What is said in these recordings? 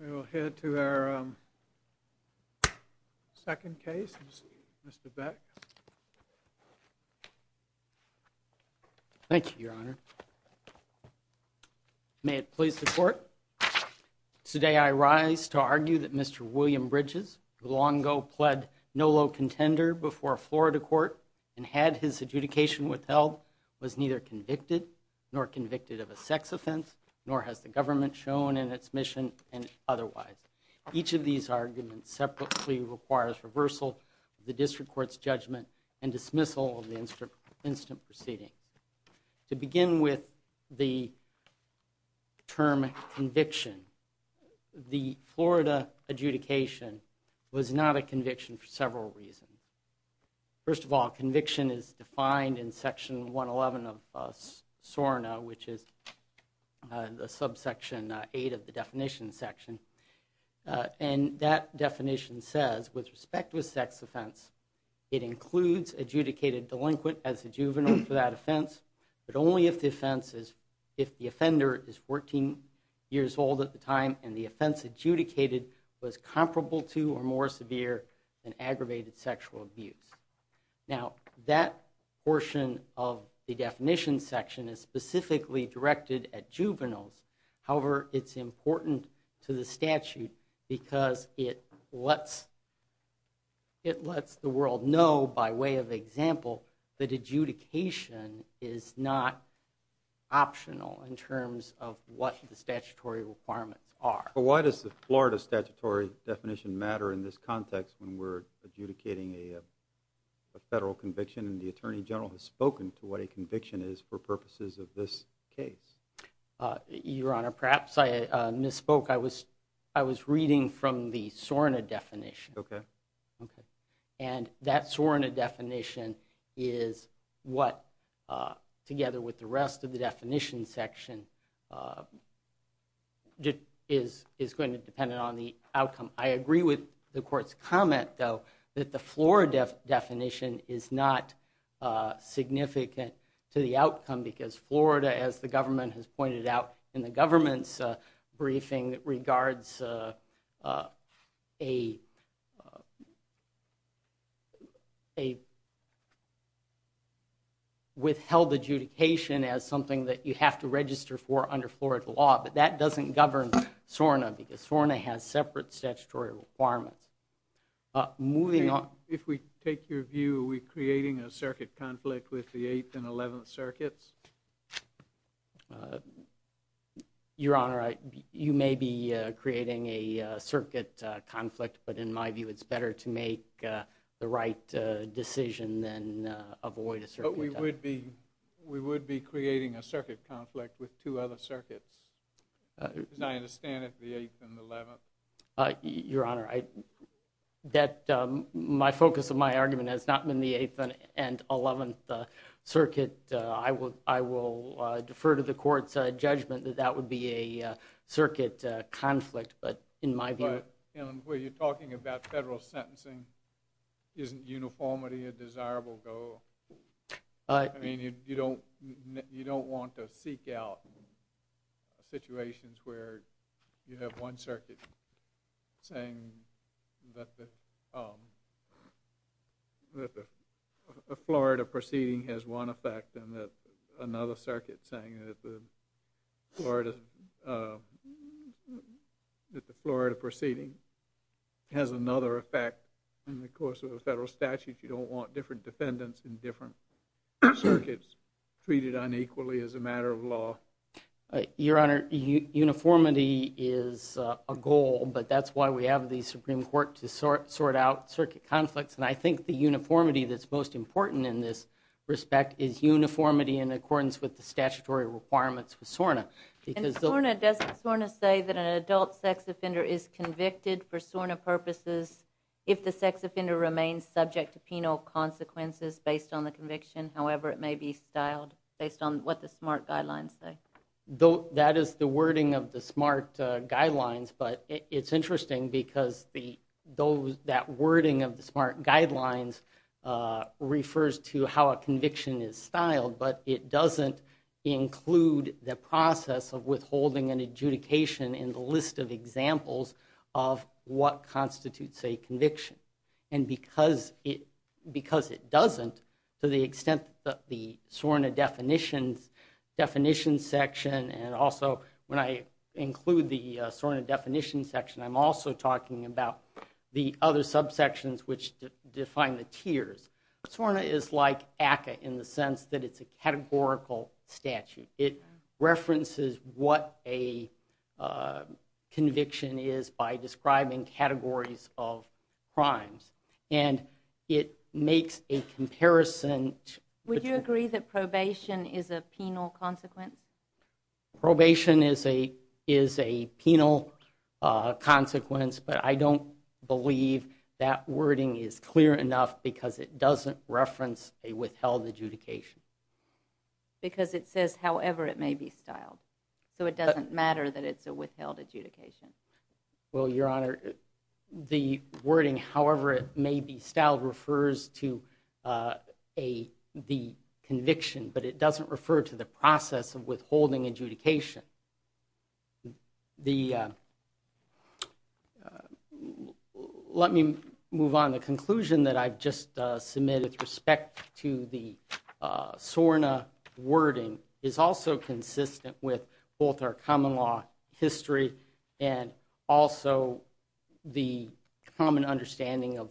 We will head to our second case. Mr. Beck. Thank you, Your Honor. May it please the court. Today I rise to argue that Mr. William Bridges, who long ago pled no low contender before a Florida court and had his adjudication withheld, was neither convicted nor convicted of a sex offense, nor has the government shown in its mission and otherwise. Each of these arguments separately requires reversal the district court's judgment and dismissal of the instant proceedings. To begin with the term conviction, the Florida adjudication was not a conviction for several reasons. First of all, conviction is defined in section 111 of SORNA, which is the subsection 8 of the definition section, and that definition says, with respect to a sex offense, it includes adjudicated delinquent as a juvenile for that offense, but only if the offender is 14 years old at the time and the offense adjudicated was comparable to or more the definition section is specifically directed at juveniles. However, it's important to the statute because it lets the world know, by way of example, that adjudication is not optional in terms of what the statutory requirements are. Why does the Florida statutory definition matter in this context when we're adjudicating a federal conviction and the Attorney General has spoken to what conviction is for purposes of this case? Your Honor, perhaps I misspoke. I was reading from the SORNA definition, and that SORNA definition is what, together with the rest of the definition section, is going to depend on the outcome. I agree with the court's comment, though, that the Florida definition is not significant to the outcome because Florida, as the government has pointed out in the government's briefing, regards a withheld adjudication as something that you have to register for under Florida law, but that doesn't govern SORNA because SORNA has separate statutory requirements. Moving on. If we take your view, are we creating a circuit conflict with the 8th and 11th circuits? Your Honor, you may be creating a circuit conflict, but in my view it's better to make the right decision than avoid a circuit. But we would be that my focus of my argument has not been the 8th and 11th circuit. I will defer to the court's judgment that that would be a circuit conflict, but in my view... But, where you're talking about federal sentencing, isn't uniformity a desirable goal? I mean, you don't want to seek out situations where you have one circuit saying that the Florida proceeding has one effect and that another circuit saying that the Florida proceeding has another effect in the course of the federal statute. You don't want different defendants in different circuits treated unequally as a matter of law. Your Honor, uniformity is a goal, but that's why we have the Supreme Court to sort out circuit conflicts, and I think the uniformity that's most important in this respect is uniformity in accordance with the statutory requirements with SORNA. And SORNA, doesn't SORNA say that an adult sex offender is convicted for SORNA purposes if the sex offender remains subject to penal consequences based on the conviction, however it may be styled based on what the SMART guidelines say? That is the wording of the SMART guidelines, but it's interesting because that wording of the SMART guidelines refers to how a conviction is styled, but it doesn't include the process of withholding an adjudication in the list of examples of what constitutes a conviction. And because it doesn't, to the extent that the SORNA definitions, definition section, and also when I include the SORNA definition section, I'm also talking about the other subsections which define the tiers. SORNA is like ACCA in the sense that it's a categorical statute. It references what a conviction is by describing categories of crimes and it makes a comparison. Would you agree that probation is a penal consequence? Probation is a is a penal consequence, but I don't believe that wording is clear enough because it doesn't reference a withheld adjudication. Because it says however it may be styled, so it doesn't matter that it's a the wording however it may be styled refers to a the conviction, but it doesn't refer to the process of withholding adjudication. The, let me move on. The conclusion that I've just submitted with respect to the SORNA wording is also consistent with both our common law history and also the common understanding of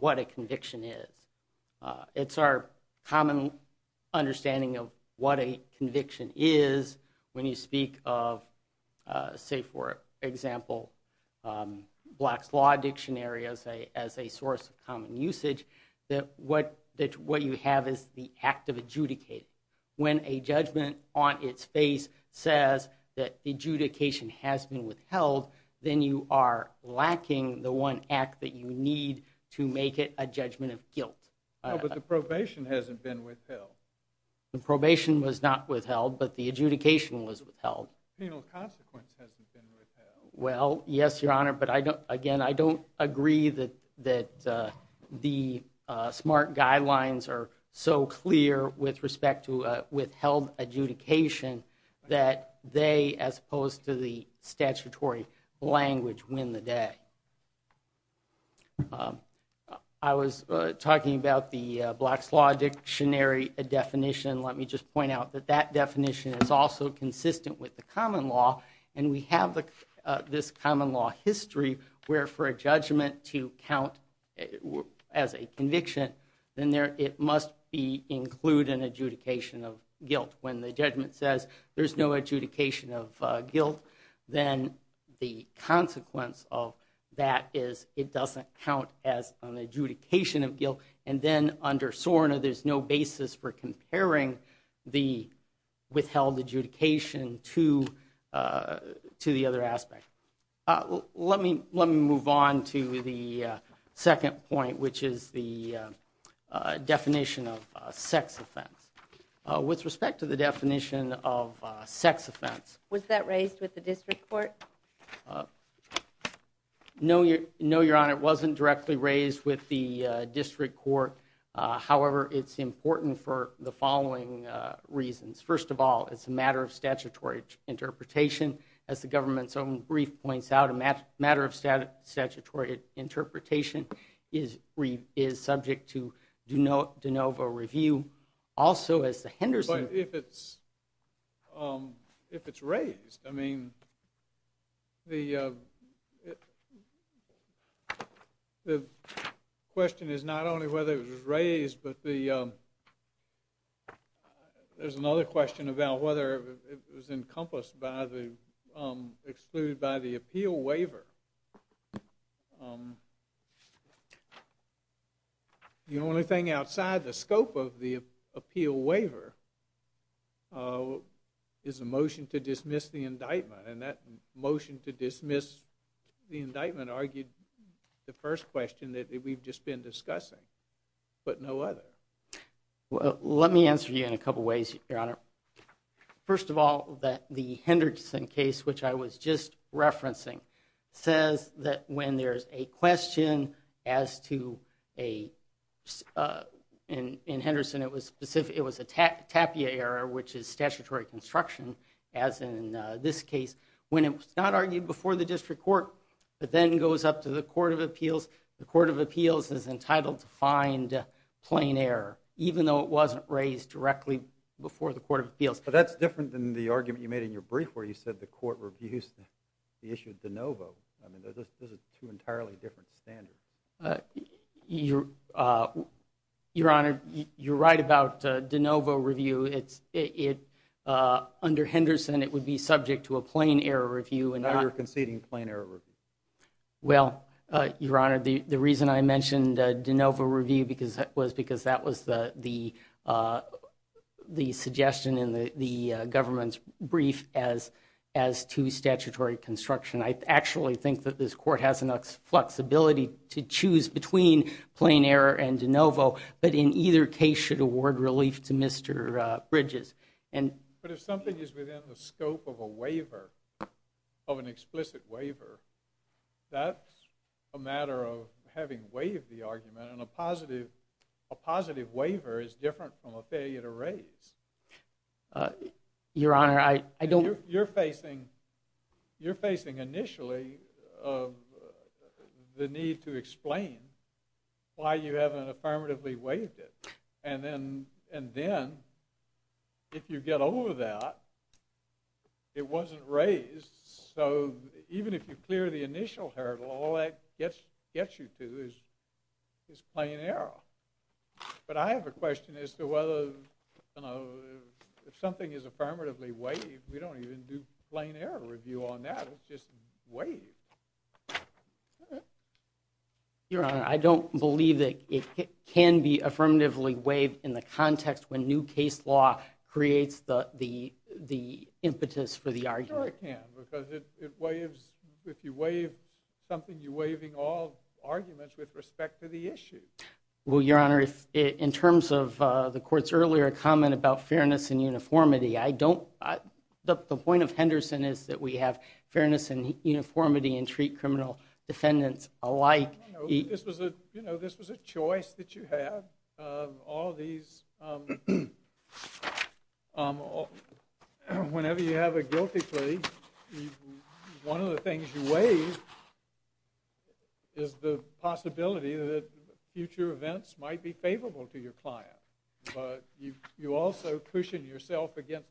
what a conviction is. It's our common understanding of what a conviction is when you speak of, say for example, Black's Law Dictionary as a source of common usage, that what that what you have is the act of adjudicating. When a judgment on its face says that adjudication has been withheld, then you are lacking the one act that you need to make it a judgment of guilt. But the probation hasn't been withheld. The probation was not withheld, but the adjudication was withheld. Penal consequence hasn't been withheld. Well, yes, your honor, but I don't, again, I don't agree that the SMART guidelines are so clear with respect to withheld adjudication that they, as opposed to the statutory language, win the day. I was talking about the Black's Law Dictionary definition. Let me just point out that that definition is also consistent with the common law, and we have this common law history, where for a judgment to count as a conviction, then it must include an adjudication of guilt. When the judgment says there's no adjudication of guilt, then the consequence of that is it doesn't count as an adjudication of guilt. And then under SORNA, there's no basis for Let me move on to the second point, which is the definition of sex offense. With respect to the definition of sex offense... Was that raised with the district court? No, your honor, it wasn't directly raised with the district court. However, it's important for the following reasons. First of all, it's a matter of statutory interpretation. As the government's own brief points out, a matter of statutory interpretation is subject to de novo review. Also, as the Henderson... But if it's raised, I mean, the question is not only whether it was raised, but there's another question about whether it was encompassed by the... excluded by the appeal waiver. The only thing outside the scope of the appeal waiver is a motion to dismiss the indictment, and that motion to dismiss the indictment argued the first question that we've just been discussing, but no other. Well, let me answer you in a couple ways, your honor. First of all, that the Henderson case, which I was just referencing, says that when there's a question as to a... In Henderson, it was specific, it was a tapia error, which is statutory construction, as in this case. When it was not argued before the district court, but then goes up to the Court of Appeals, the Court of Appeals is entitled to find plain error, even though it wasn't raised directly before the Court of Appeals. But that's different than the argument you made in your brief, where you said the court reviews the issue de novo. I mean, those are two entirely different standards. Your honor, you're right about de novo review. Under Henderson, it would be subject to a plain error review. Now you're conceding plain error review. Well, your honor, the reason I mentioned de novo review was because that was the suggestion in the government's brief as to statutory construction. I actually think that this court has enough flexibility to choose between plain error and de novo, but in either case should award relief to Mr. Bridges. But if something is within the scope of a waiver, of an explicit waiver, that's a matter of having waived the argument, and a positive waiver is different from a failure to raise. Your honor, I don't... You're facing initially the need to explain why you haven't affirmatively waived it, and then, if you get over that, it wasn't raised. So even if you clear the initial hurdle, all that gets you to is plain error. But I have a question as to whether, you know, if something is affirmatively waived, we don't even do plain error review on that. It's just waived. Your honor, I don't believe that it can be waived in the context when new case law creates the impetus for the argument. Sure it can, because if you waive something, you're waiving all arguments with respect to the issue. Well, your honor, in terms of the court's earlier comment about fairness and uniformity, I don't... The point of Henderson is that we have fairness and uniformity and treat criminal defendants alike. This was a, you know, this was a case... Whenever you have a guilty plea, one of the things you waive is the possibility that future events might be favorable to your client. But you also cushion yourself against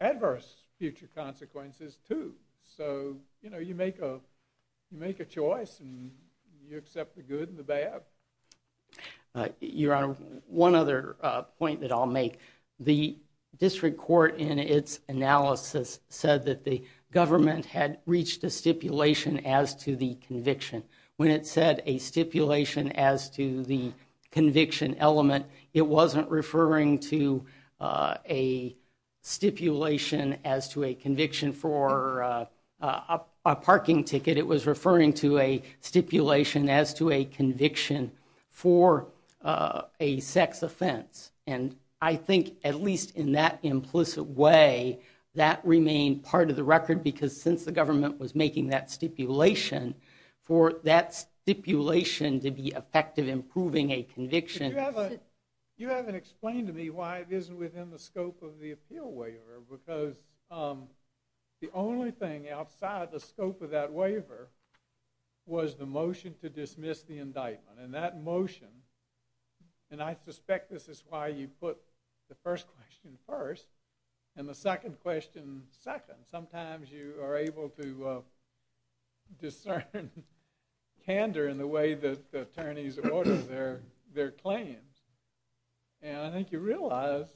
adverse future consequences, too. So, you know, you make a choice. You accept the good and the bad. Your honor, one other point that I'll make. The District Court, in its analysis, said that the government had reached a stipulation as to the conviction. When it said a stipulation as to the conviction element, it wasn't referring to a stipulation as to a conviction for a sex offense. And I think, at least in that implicit way, that remained part of the record, because since the government was making that stipulation, for that stipulation to be effective in proving a conviction... You haven't explained to me why it isn't within the scope of the appeal waiver, because the only thing outside of the scope of that was the motion to dismiss the indictment. And that motion... And I suspect this is why you put the first question first, and the second question second. Sometimes you are able to discern candor in the way that the attorneys order their claims. And I think you realized,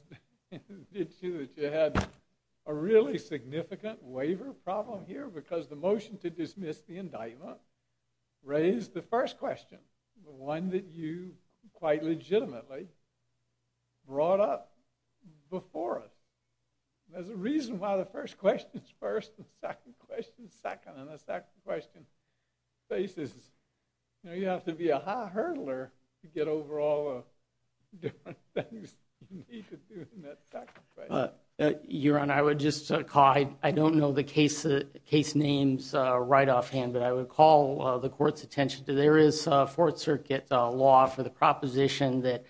didn't you, that you had a really significant waiver problem here, because the motion to dismiss the indictment raised the first question. The one that you, quite legitimately, brought up before us. There's a reason why the first question is first, and the second question is second, and the second question faces... You know, you have to be a high hurdler to get over all the different things you need to do in that second question. Your Honor, I would just call... I don't know the case names right offhand, but I would call the court's attention to... There is a Fourth Circuit law for the proposition that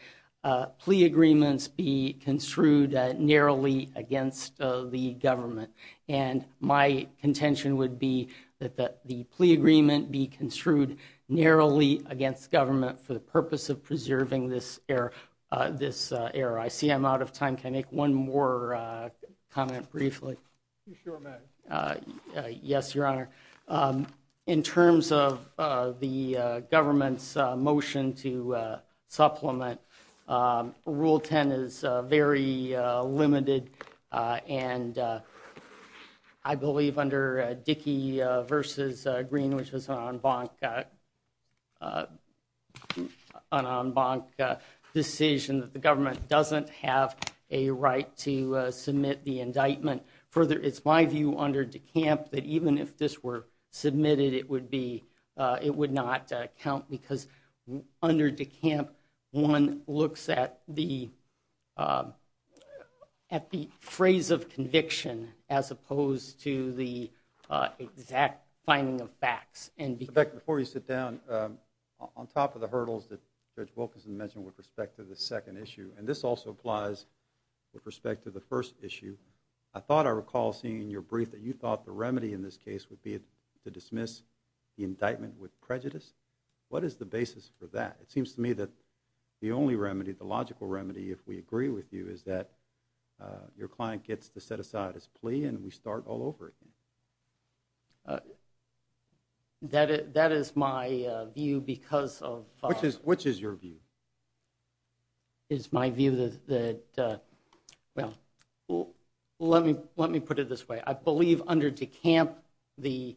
plea agreements be construed narrowly against the government. And my contention would be that the plea agreement be construed narrowly against government for the purpose of preserving this error. I see I'm out of time. Can I make one more comment briefly? You sure may. Yes, Your Honor. In terms of the government's motion to supplement, Rule 10 is very limited, and I believe under Dickey v. Green, which was an en banc decision, that the government doesn't have a right to submit the indictment. Further, it's my view under DeCamp that even if this were submitted, it would not count, because under DeCamp, one looks at the phrase of conviction as opposed to the exact finding of facts. Before you sit down, on top of the hurdles that Judge Wilkinson mentioned with respect to the second issue, and this also applies with respect to the first issue, I thought I recall seeing in your brief that you thought the remedy in this case would be to dismiss the indictment with prejudice. What is the basis for that? It seems to me that the only remedy, the logical remedy, if we agree with you, is that your client gets to set aside his plea and we start all over again. That is my view because of... Which is your view? It's my view that, well, let me put it this way. I believe under DeCamp, the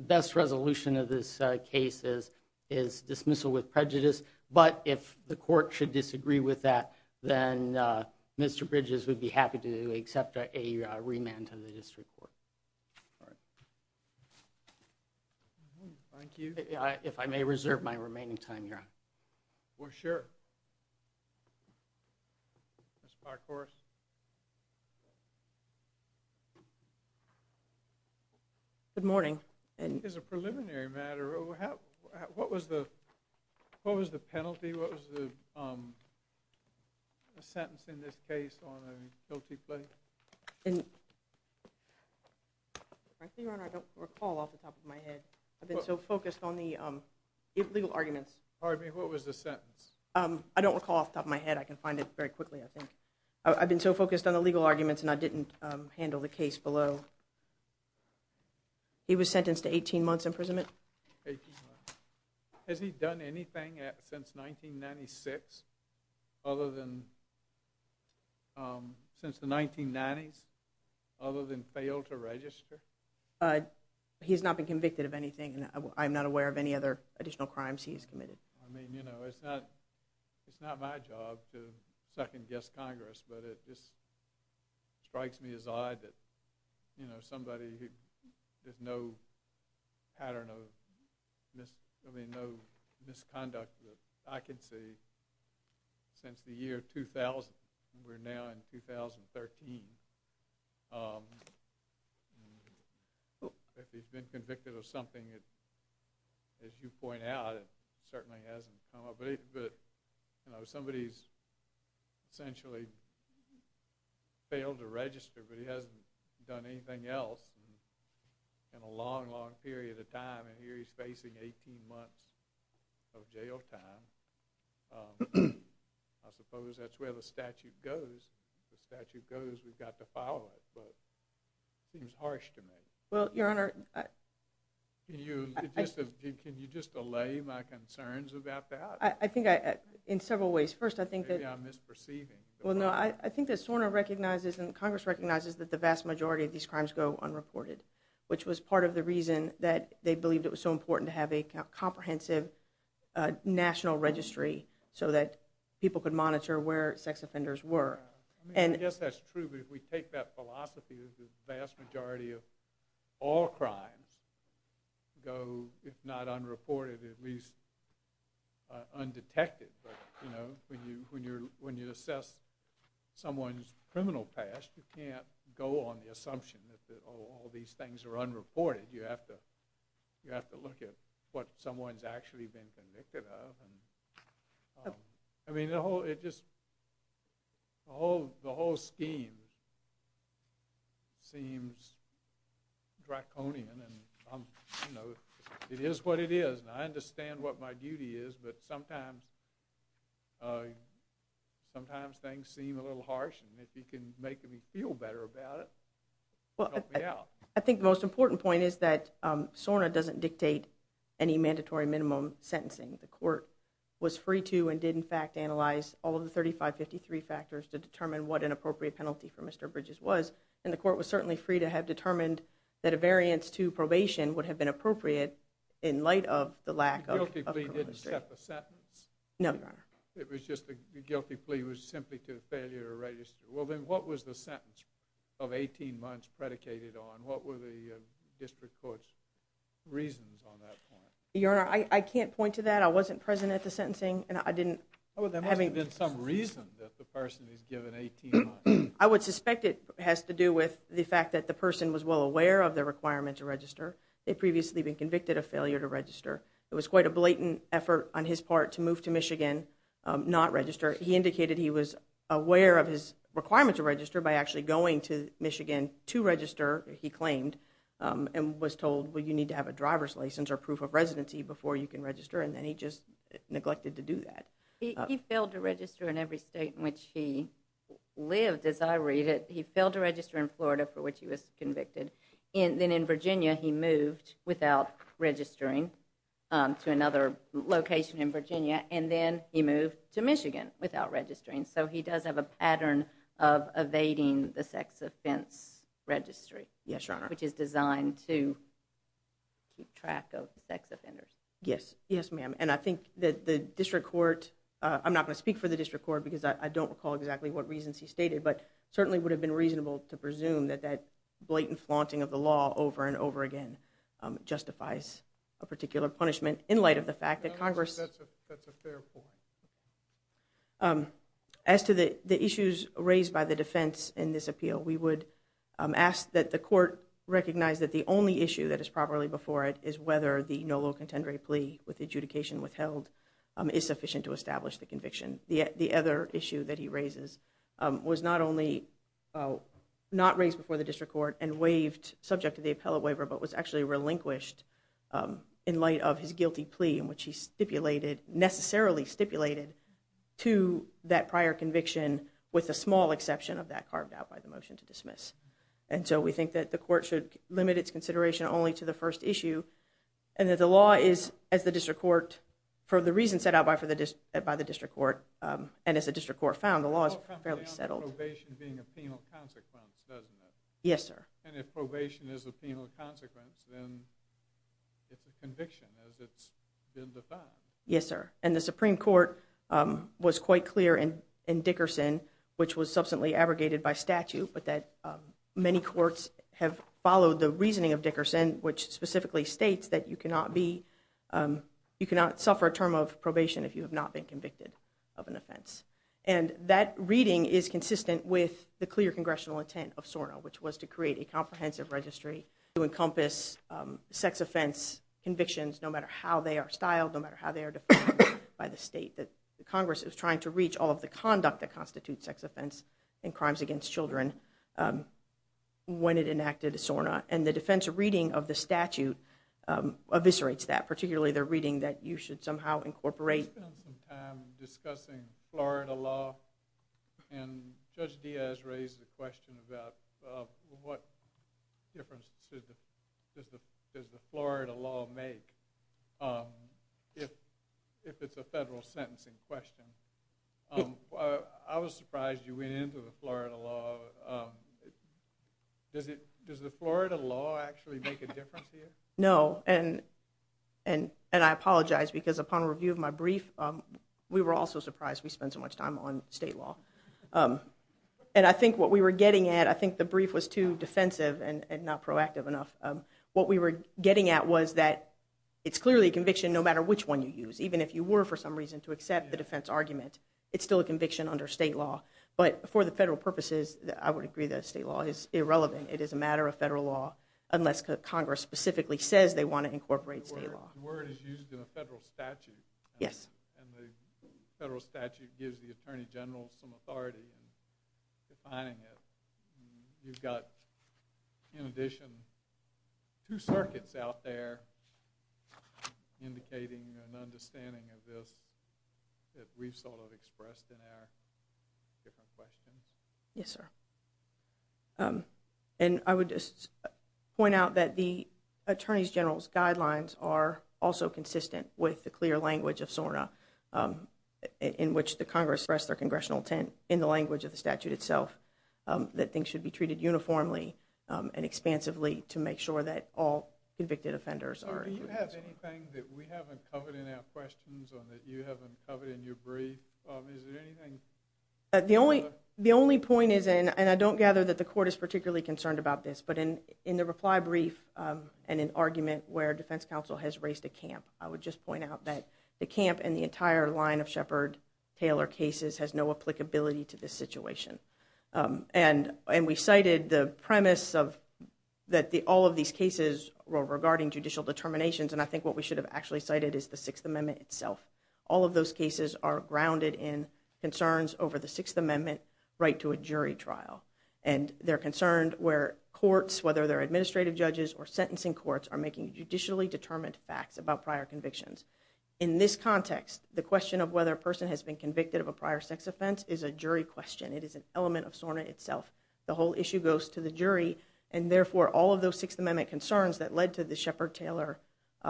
best resolution of this case is dismissal with prejudice, but if the court should disagree with that, then Mr. Bridges would be happy to accept a remand to the district court. Thank you. If I may reserve my remaining time, Your Honor. Well, sure. Ms. Parkhorse? Good morning. And is a preliminary matter, what was the penalty? What was the sentence in this case on a guilty plea? Frankly, Your Honor, I don't recall off the top of my head. I've been so focused on the legal arguments. Pardon me, what was the sentence? I don't recall off the top of my head. I can find it very quickly, I think. I've been so focused on the legal arguments and I didn't handle the case below. He was sentenced to 18 months imprisonment. 18 months. Has he done anything since 1996 other than, since the 1990s, other than fail to register? He's not been convicted of anything and I'm not aware of any other additional crimes he's committed. I mean, you know, it's not, it's not my job to second-guess Congress, but it just strikes me as odd that, you know, somebody who, there's no pattern of mis, I mean, no misconduct that I can see since the year 2000. We're now in 2013. If he's been convicted of something, as you point out, it certainly hasn't come up. But, you know, somebody's essentially failed to register, but he hasn't done anything else in a long, long period of time. And here he's facing 18 months of jail time. I suppose that's where the statute goes. The statute goes, we've got to follow it, but it seems harsh to me. Well, Your Honor, I... Can you, can you just allay my concerns about that? I think I, in several ways. First, I think that... Maybe I'm misperceiving. Well, no, I think that SORNA recognizes and Congress recognizes that the vast majority of these crimes go unreported, which was part of the reason that they believed it was so important to have a comprehensive national registry so that people could monitor where sex offenders were. I mean, I guess that's true, but if we take that philosophy that the vast majority of all crimes go, if not unreported, at least undetected. But, you know, when you assess someone's criminal past, you can't go on the assumption that all these things are unreported. You have to look at what someone's actually been convicted of. I mean, the whole, it just, the whole scheme seems draconian, and I'm, you know, it is what it is, and I understand what my duty is, but sometimes, sometimes things seem a little harsh, and if you can make me feel better about it, help me out. I think the most important point is that SORNA doesn't dictate any mandatory minimum sentencing. The court was free to and did, in fact, analyze all of the 3553 factors to determine what an appropriate penalty for Mr. Bridges was, and the court was certainly free to have determined that a variance to probation would have been appropriate in light of the lack of... The guilty plea didn't set the sentence? No, Your Honor. It was just the guilty plea was simply to failure to register. Well, then what was the sentence of 18 months predicated on? What were the district court's reasons on that point? Your Honor, I can't point to that. I wasn't present at the sentencing, and I didn't... Well, there must have been some reason that the person is given 18 months. I would suspect it has to do with the fact that the person was well aware of the requirement to register. They'd previously been convicted of failure to register. It was quite a blatant effort on his part to move to Michigan, not register. He indicated he was aware of his requirement to register by actually going to Michigan to register, he claimed, and was told, well, you need to have a driver's license or proof of residency before you can register, and then he just neglected to do that. He failed to register in every state in which he lived, as I read it. He failed to register in Florida, for which he was convicted. Then in Virginia, he moved without registering to another location in Virginia, and then he moved to Michigan without registering. So he does have a pattern of evading the sex offense registry. Yes, Your Honor. Which is designed to keep track of sex offenders. Yes. Yes, ma'am. And I think that the district court... I'm not going to speak for the district court because I don't recall exactly what reasons he stated, but it certainly would have been reasonable to presume that that blatant flaunting of the law over and over again justifies a particular punishment in light of the fact that Congress... That's a fair point. As to the issues raised by the defense in this appeal, we would ask that the court recognize that the only issue that is properly before it is whether the Nolo contendere plea with adjudication withheld is sufficient to establish the conviction. The other issue that he raises was not only not raised before the district court and waived subject to the appellate waiver, but was actually relinquished in light of his guilty plea in which he stipulated, necessarily stipulated, to that prior conviction with a small exception of that carved out by the motion to dismiss. And so we think that the court should limit its consideration only to the first issue and that the law is, as the district court, for the reasons set out by the district court and as the district court found, the law is fairly settled. It all comes down to probation being a penal consequence, doesn't it? Yes, sir. And if probation is a penal consequence, then it's a conviction as it's been defined. Yes, sir. And the Supreme Court was quite clear in Dickerson, which was substantially abrogated by statute, but that many courts have followed the reasoning of Dickerson, which specifically states that you cannot be, you cannot suffer a term of probation if you have not been convicted of an offense. And that reading is consistent with the clear congressional intent of SORNA, which was to create a comprehensive registry to encompass sex offense convictions no matter how they are styled, no matter how they are defined by the state. That Congress is trying to reach all of the conduct that constitutes sex offense and crimes against children when it enacted SORNA. And the defensive reading of the statute eviscerates that, particularly the reading that you should somehow incorporate. I spent some time discussing Florida law, and Judge Diaz raised the question about what difference does the Florida law make if it's a federal sentencing question. I was surprised you went into the Florida law. Does the Florida law actually make a difference here? No, and I apologize because upon review of my brief, we were also surprised we spent so much time on state law. And I think what we were getting at, I think the brief was too defensive and not proactive enough. What we were getting at was that it's clearly a conviction no matter which one you use. Even if you were for some reason to accept the defense argument, it's still a conviction under state law. But for the federal purposes, I would agree that state law is irrelevant. It is a matter of federal law unless Congress specifically says they want to incorporate state law. The word is used in a federal statute. Yes. And the federal statute gives the Attorney General some authority in defining it. You've got, in addition, two circuits out there indicating an understanding of this that we've sort of expressed in our different questions. Yes, sir. And I would just point out that the Attorney General's guidelines are also consistent with the clear language of SORNA, in which the Congress expressed their congressional intent in the language of the statute itself, that things should be treated uniformly and expansively to make sure that all convicted offenders are included. Do you have anything that we haven't covered in our questions or that you haven't covered in your brief? Is there anything? The only point is, and I don't gather that the court is particularly concerned about this, but in the reply brief and in argument where defense counsel has raised a camp, I would just point out that the camp and the entire line of Shepard-Taylor cases has no applicability to this situation. And we cited the premise that all of these cases were regarding judicial determinations, and I think what we should have actually cited is the Sixth Amendment itself. All of those cases are grounded in concerns over the Sixth Amendment right to a jury trial. And they're concerned where courts, whether they're administrative judges or sentencing courts, are making judicially determined facts about prior convictions. In this context, the question of whether a person has been convicted of a prior sex offense is a jury question. It is an element of SORNA itself. The whole issue goes to the jury, and therefore, all of those Sixth Amendment concerns that led to the Shepard-Taylor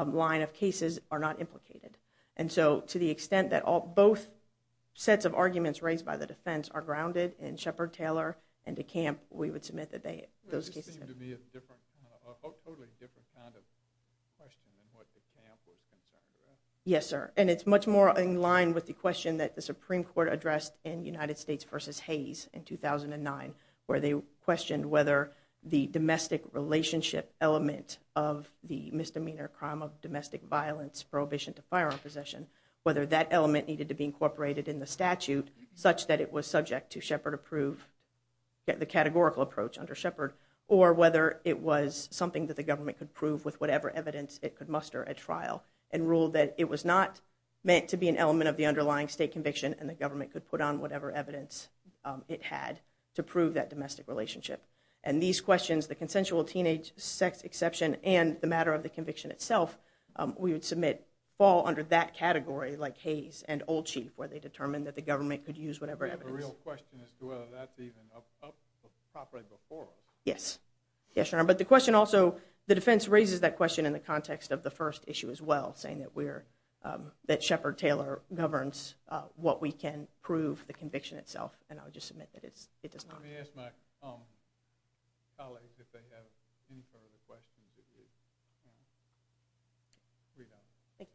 line of cases are not implicated. And so, to the extent that both sets of arguments raised by the defense are grounded in Shepard-Taylor and the camp, we would submit that those cases... It seemed to me a totally different kind of question than what the camp was concerned with. Yes, sir. And it's much more in line with the question that the Supreme Court addressed in United States v. Hayes in 2009, where they questioned whether the domestic relationship element of the misdemeanor crime of domestic violence, prohibition to firearm possession, whether that element needed to be incorporated in the statute such that it was subject to Shepard-approved, the categorical approach under Shepard, or whether it was something that the government could prove with whatever evidence it could muster at trial and ruled that it was not meant to be an element of the underlying state conviction and the government could put on whatever evidence it had to prove that domestic relationship. And these questions, the consensual teenage sex exception and the matter of the conviction itself, we would submit, fall under that category, like Hayes and Old Chief, where they determined that the government could use whatever evidence. I have a real question as to whether that's even up properly before us. Yes. Yes, Your Honor. But the question also, the defense raises that question in the context of the first issue as well, saying that Shepard-Taylor governs what we can prove, the conviction itself, and I would just submit that it does not. Let me ask my colleagues if they have any further questions. Read on. Thank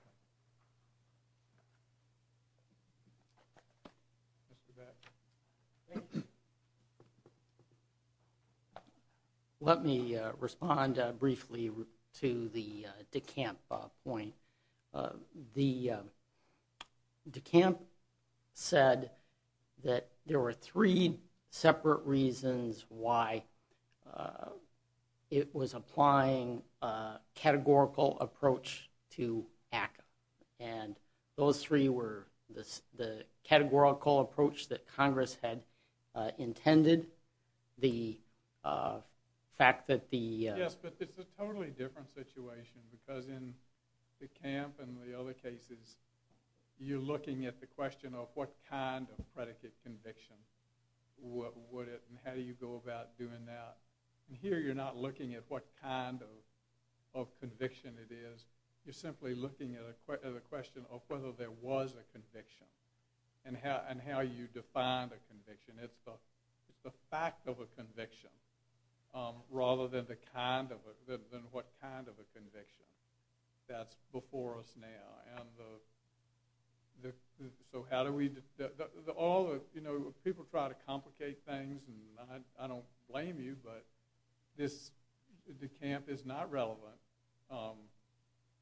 you. Mr. Batch. Thank you. Let me respond briefly to the DeCamp point. DeCamp said that there were three separate reasons why it was applying a categorical approach to ACCA, and those three were the categorical approach that Congress had intended, the fact that the Yes, but it's a totally different situation, because in DeCamp and the other cases, you're looking at the question of what kind of predicate conviction would it and how do you go about doing that? And here you're not looking at what kind of conviction it is. You're simply looking at the question of whether there was a conviction and how you define the conviction. It's the fact of a conviction rather than what kind of a conviction that's before us now. So how do we... People try to complicate things, and I don't blame you, but DeCamp is not relevant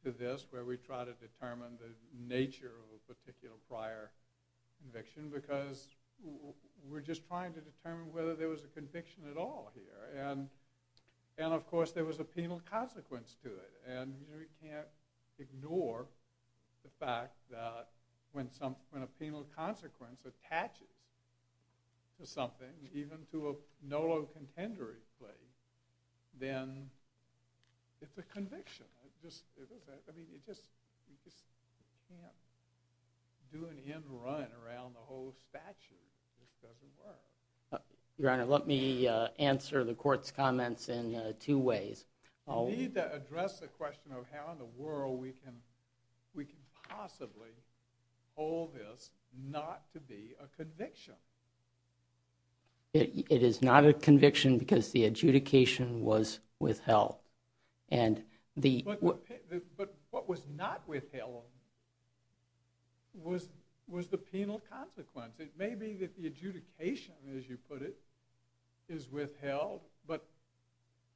to this, where we try to determine the nature of a particular prior conviction, because we're just trying to determine whether there was a conviction at all here, and of course there was a penal consequence to it, and we can't ignore the fact that when a penal consequence attaches to something, even to a conviction, then it's a conviction. You just can't do an end run around the whole statute. Your Honor, let me answer the Court's comments in two ways. We need to address the question of how in the world we can possibly hold this not to be a conviction. It is not a conviction because the adjudication was withheld. But what was not withheld was the penal consequence. It may be that the adjudication, as you put it, is withheld, but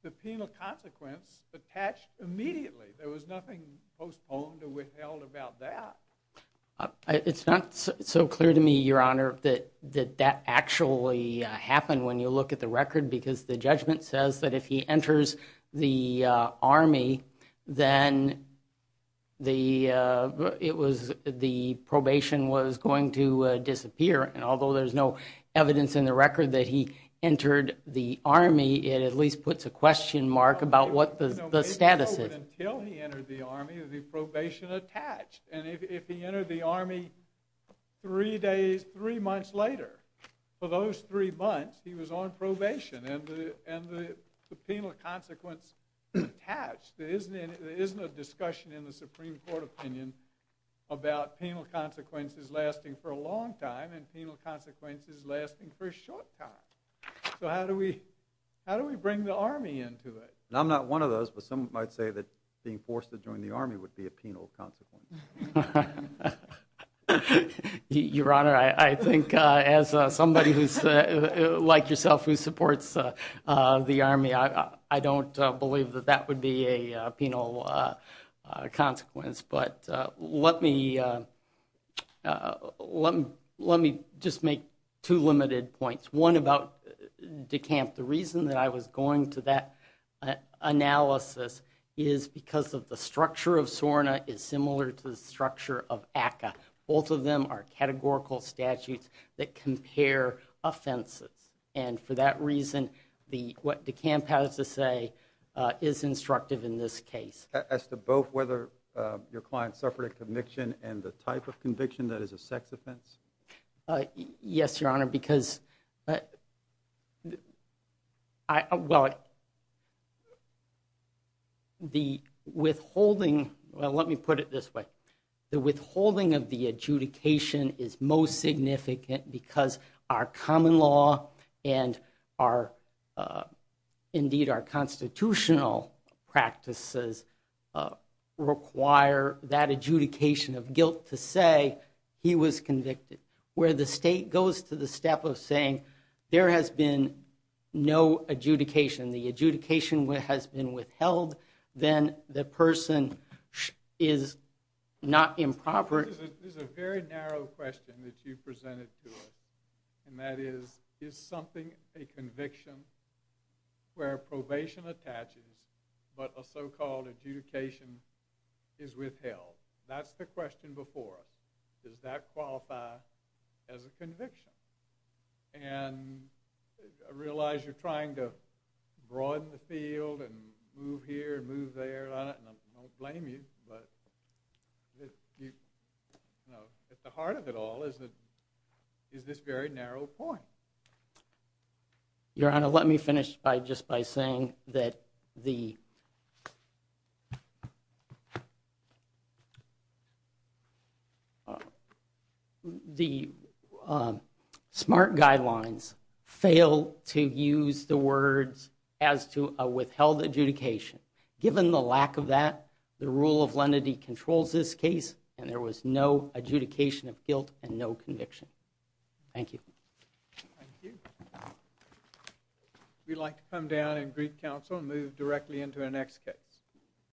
the penal consequence attached immediately. There was nothing postponed or withheld about that. It's not so clear to me, Your Honor, that that actually happened when you look at the record, because the judgment says that if he enters the Army, then the probation was going to disappear, and although there's no evidence in the record that he entered the Army, it at least puts a question mark about what the status is. Until he entered the Army, the probation attached. And if he entered the Army three days, three months later, for those three months, he was on probation, and the penal consequence attached. There isn't a discussion in the Supreme Court opinion about penal consequences lasting for a long time and penal consequences lasting for a short time. So how do we bring the Army into it? And I'm not one of those, but some might say that being forced to join the Army would be a penal consequence. Your Honor, I think as somebody who's, like yourself, who supports the Army, I don't believe that that would be a penal consequence, but let me let me just make two limited points. One about DeCamp. The reason that I was going to that analysis is because of the structure of ACCA. Both of them are categorical statutes that compare offenses, and for that reason what DeCamp has to say is instructive in this case. As to both whether your client suffered a conviction and the type of conviction that is a sex offense? Yes, Your Honor, because the withholding well, let me put it this way. The withholding of the adjudication is most significant because our common law and our, indeed our constitutional practices require that adjudication of guilt to say he was convicted. Where the state goes to the step of saying there has been no adjudication, the adjudication has been withheld then the person is not improper. There's a very narrow question that you presented to us and that is, is something a conviction where probation attaches but a so-called adjudication is withheld? That's the question before us. Does that qualify as a conviction? And I realize you're trying to broaden the field and move here and move there and I won't blame you but at the heart of it all is this very narrow point. Your Honor, let me finish just by saying that the smart guidelines fail to use the words as to a withheld adjudication. Given the lack of that, the rule of lenity controls this case and there was no adjudication of guilt and no conviction. Thank you. Thank you. We'd like to come down in Greek Council and move directly into our next case.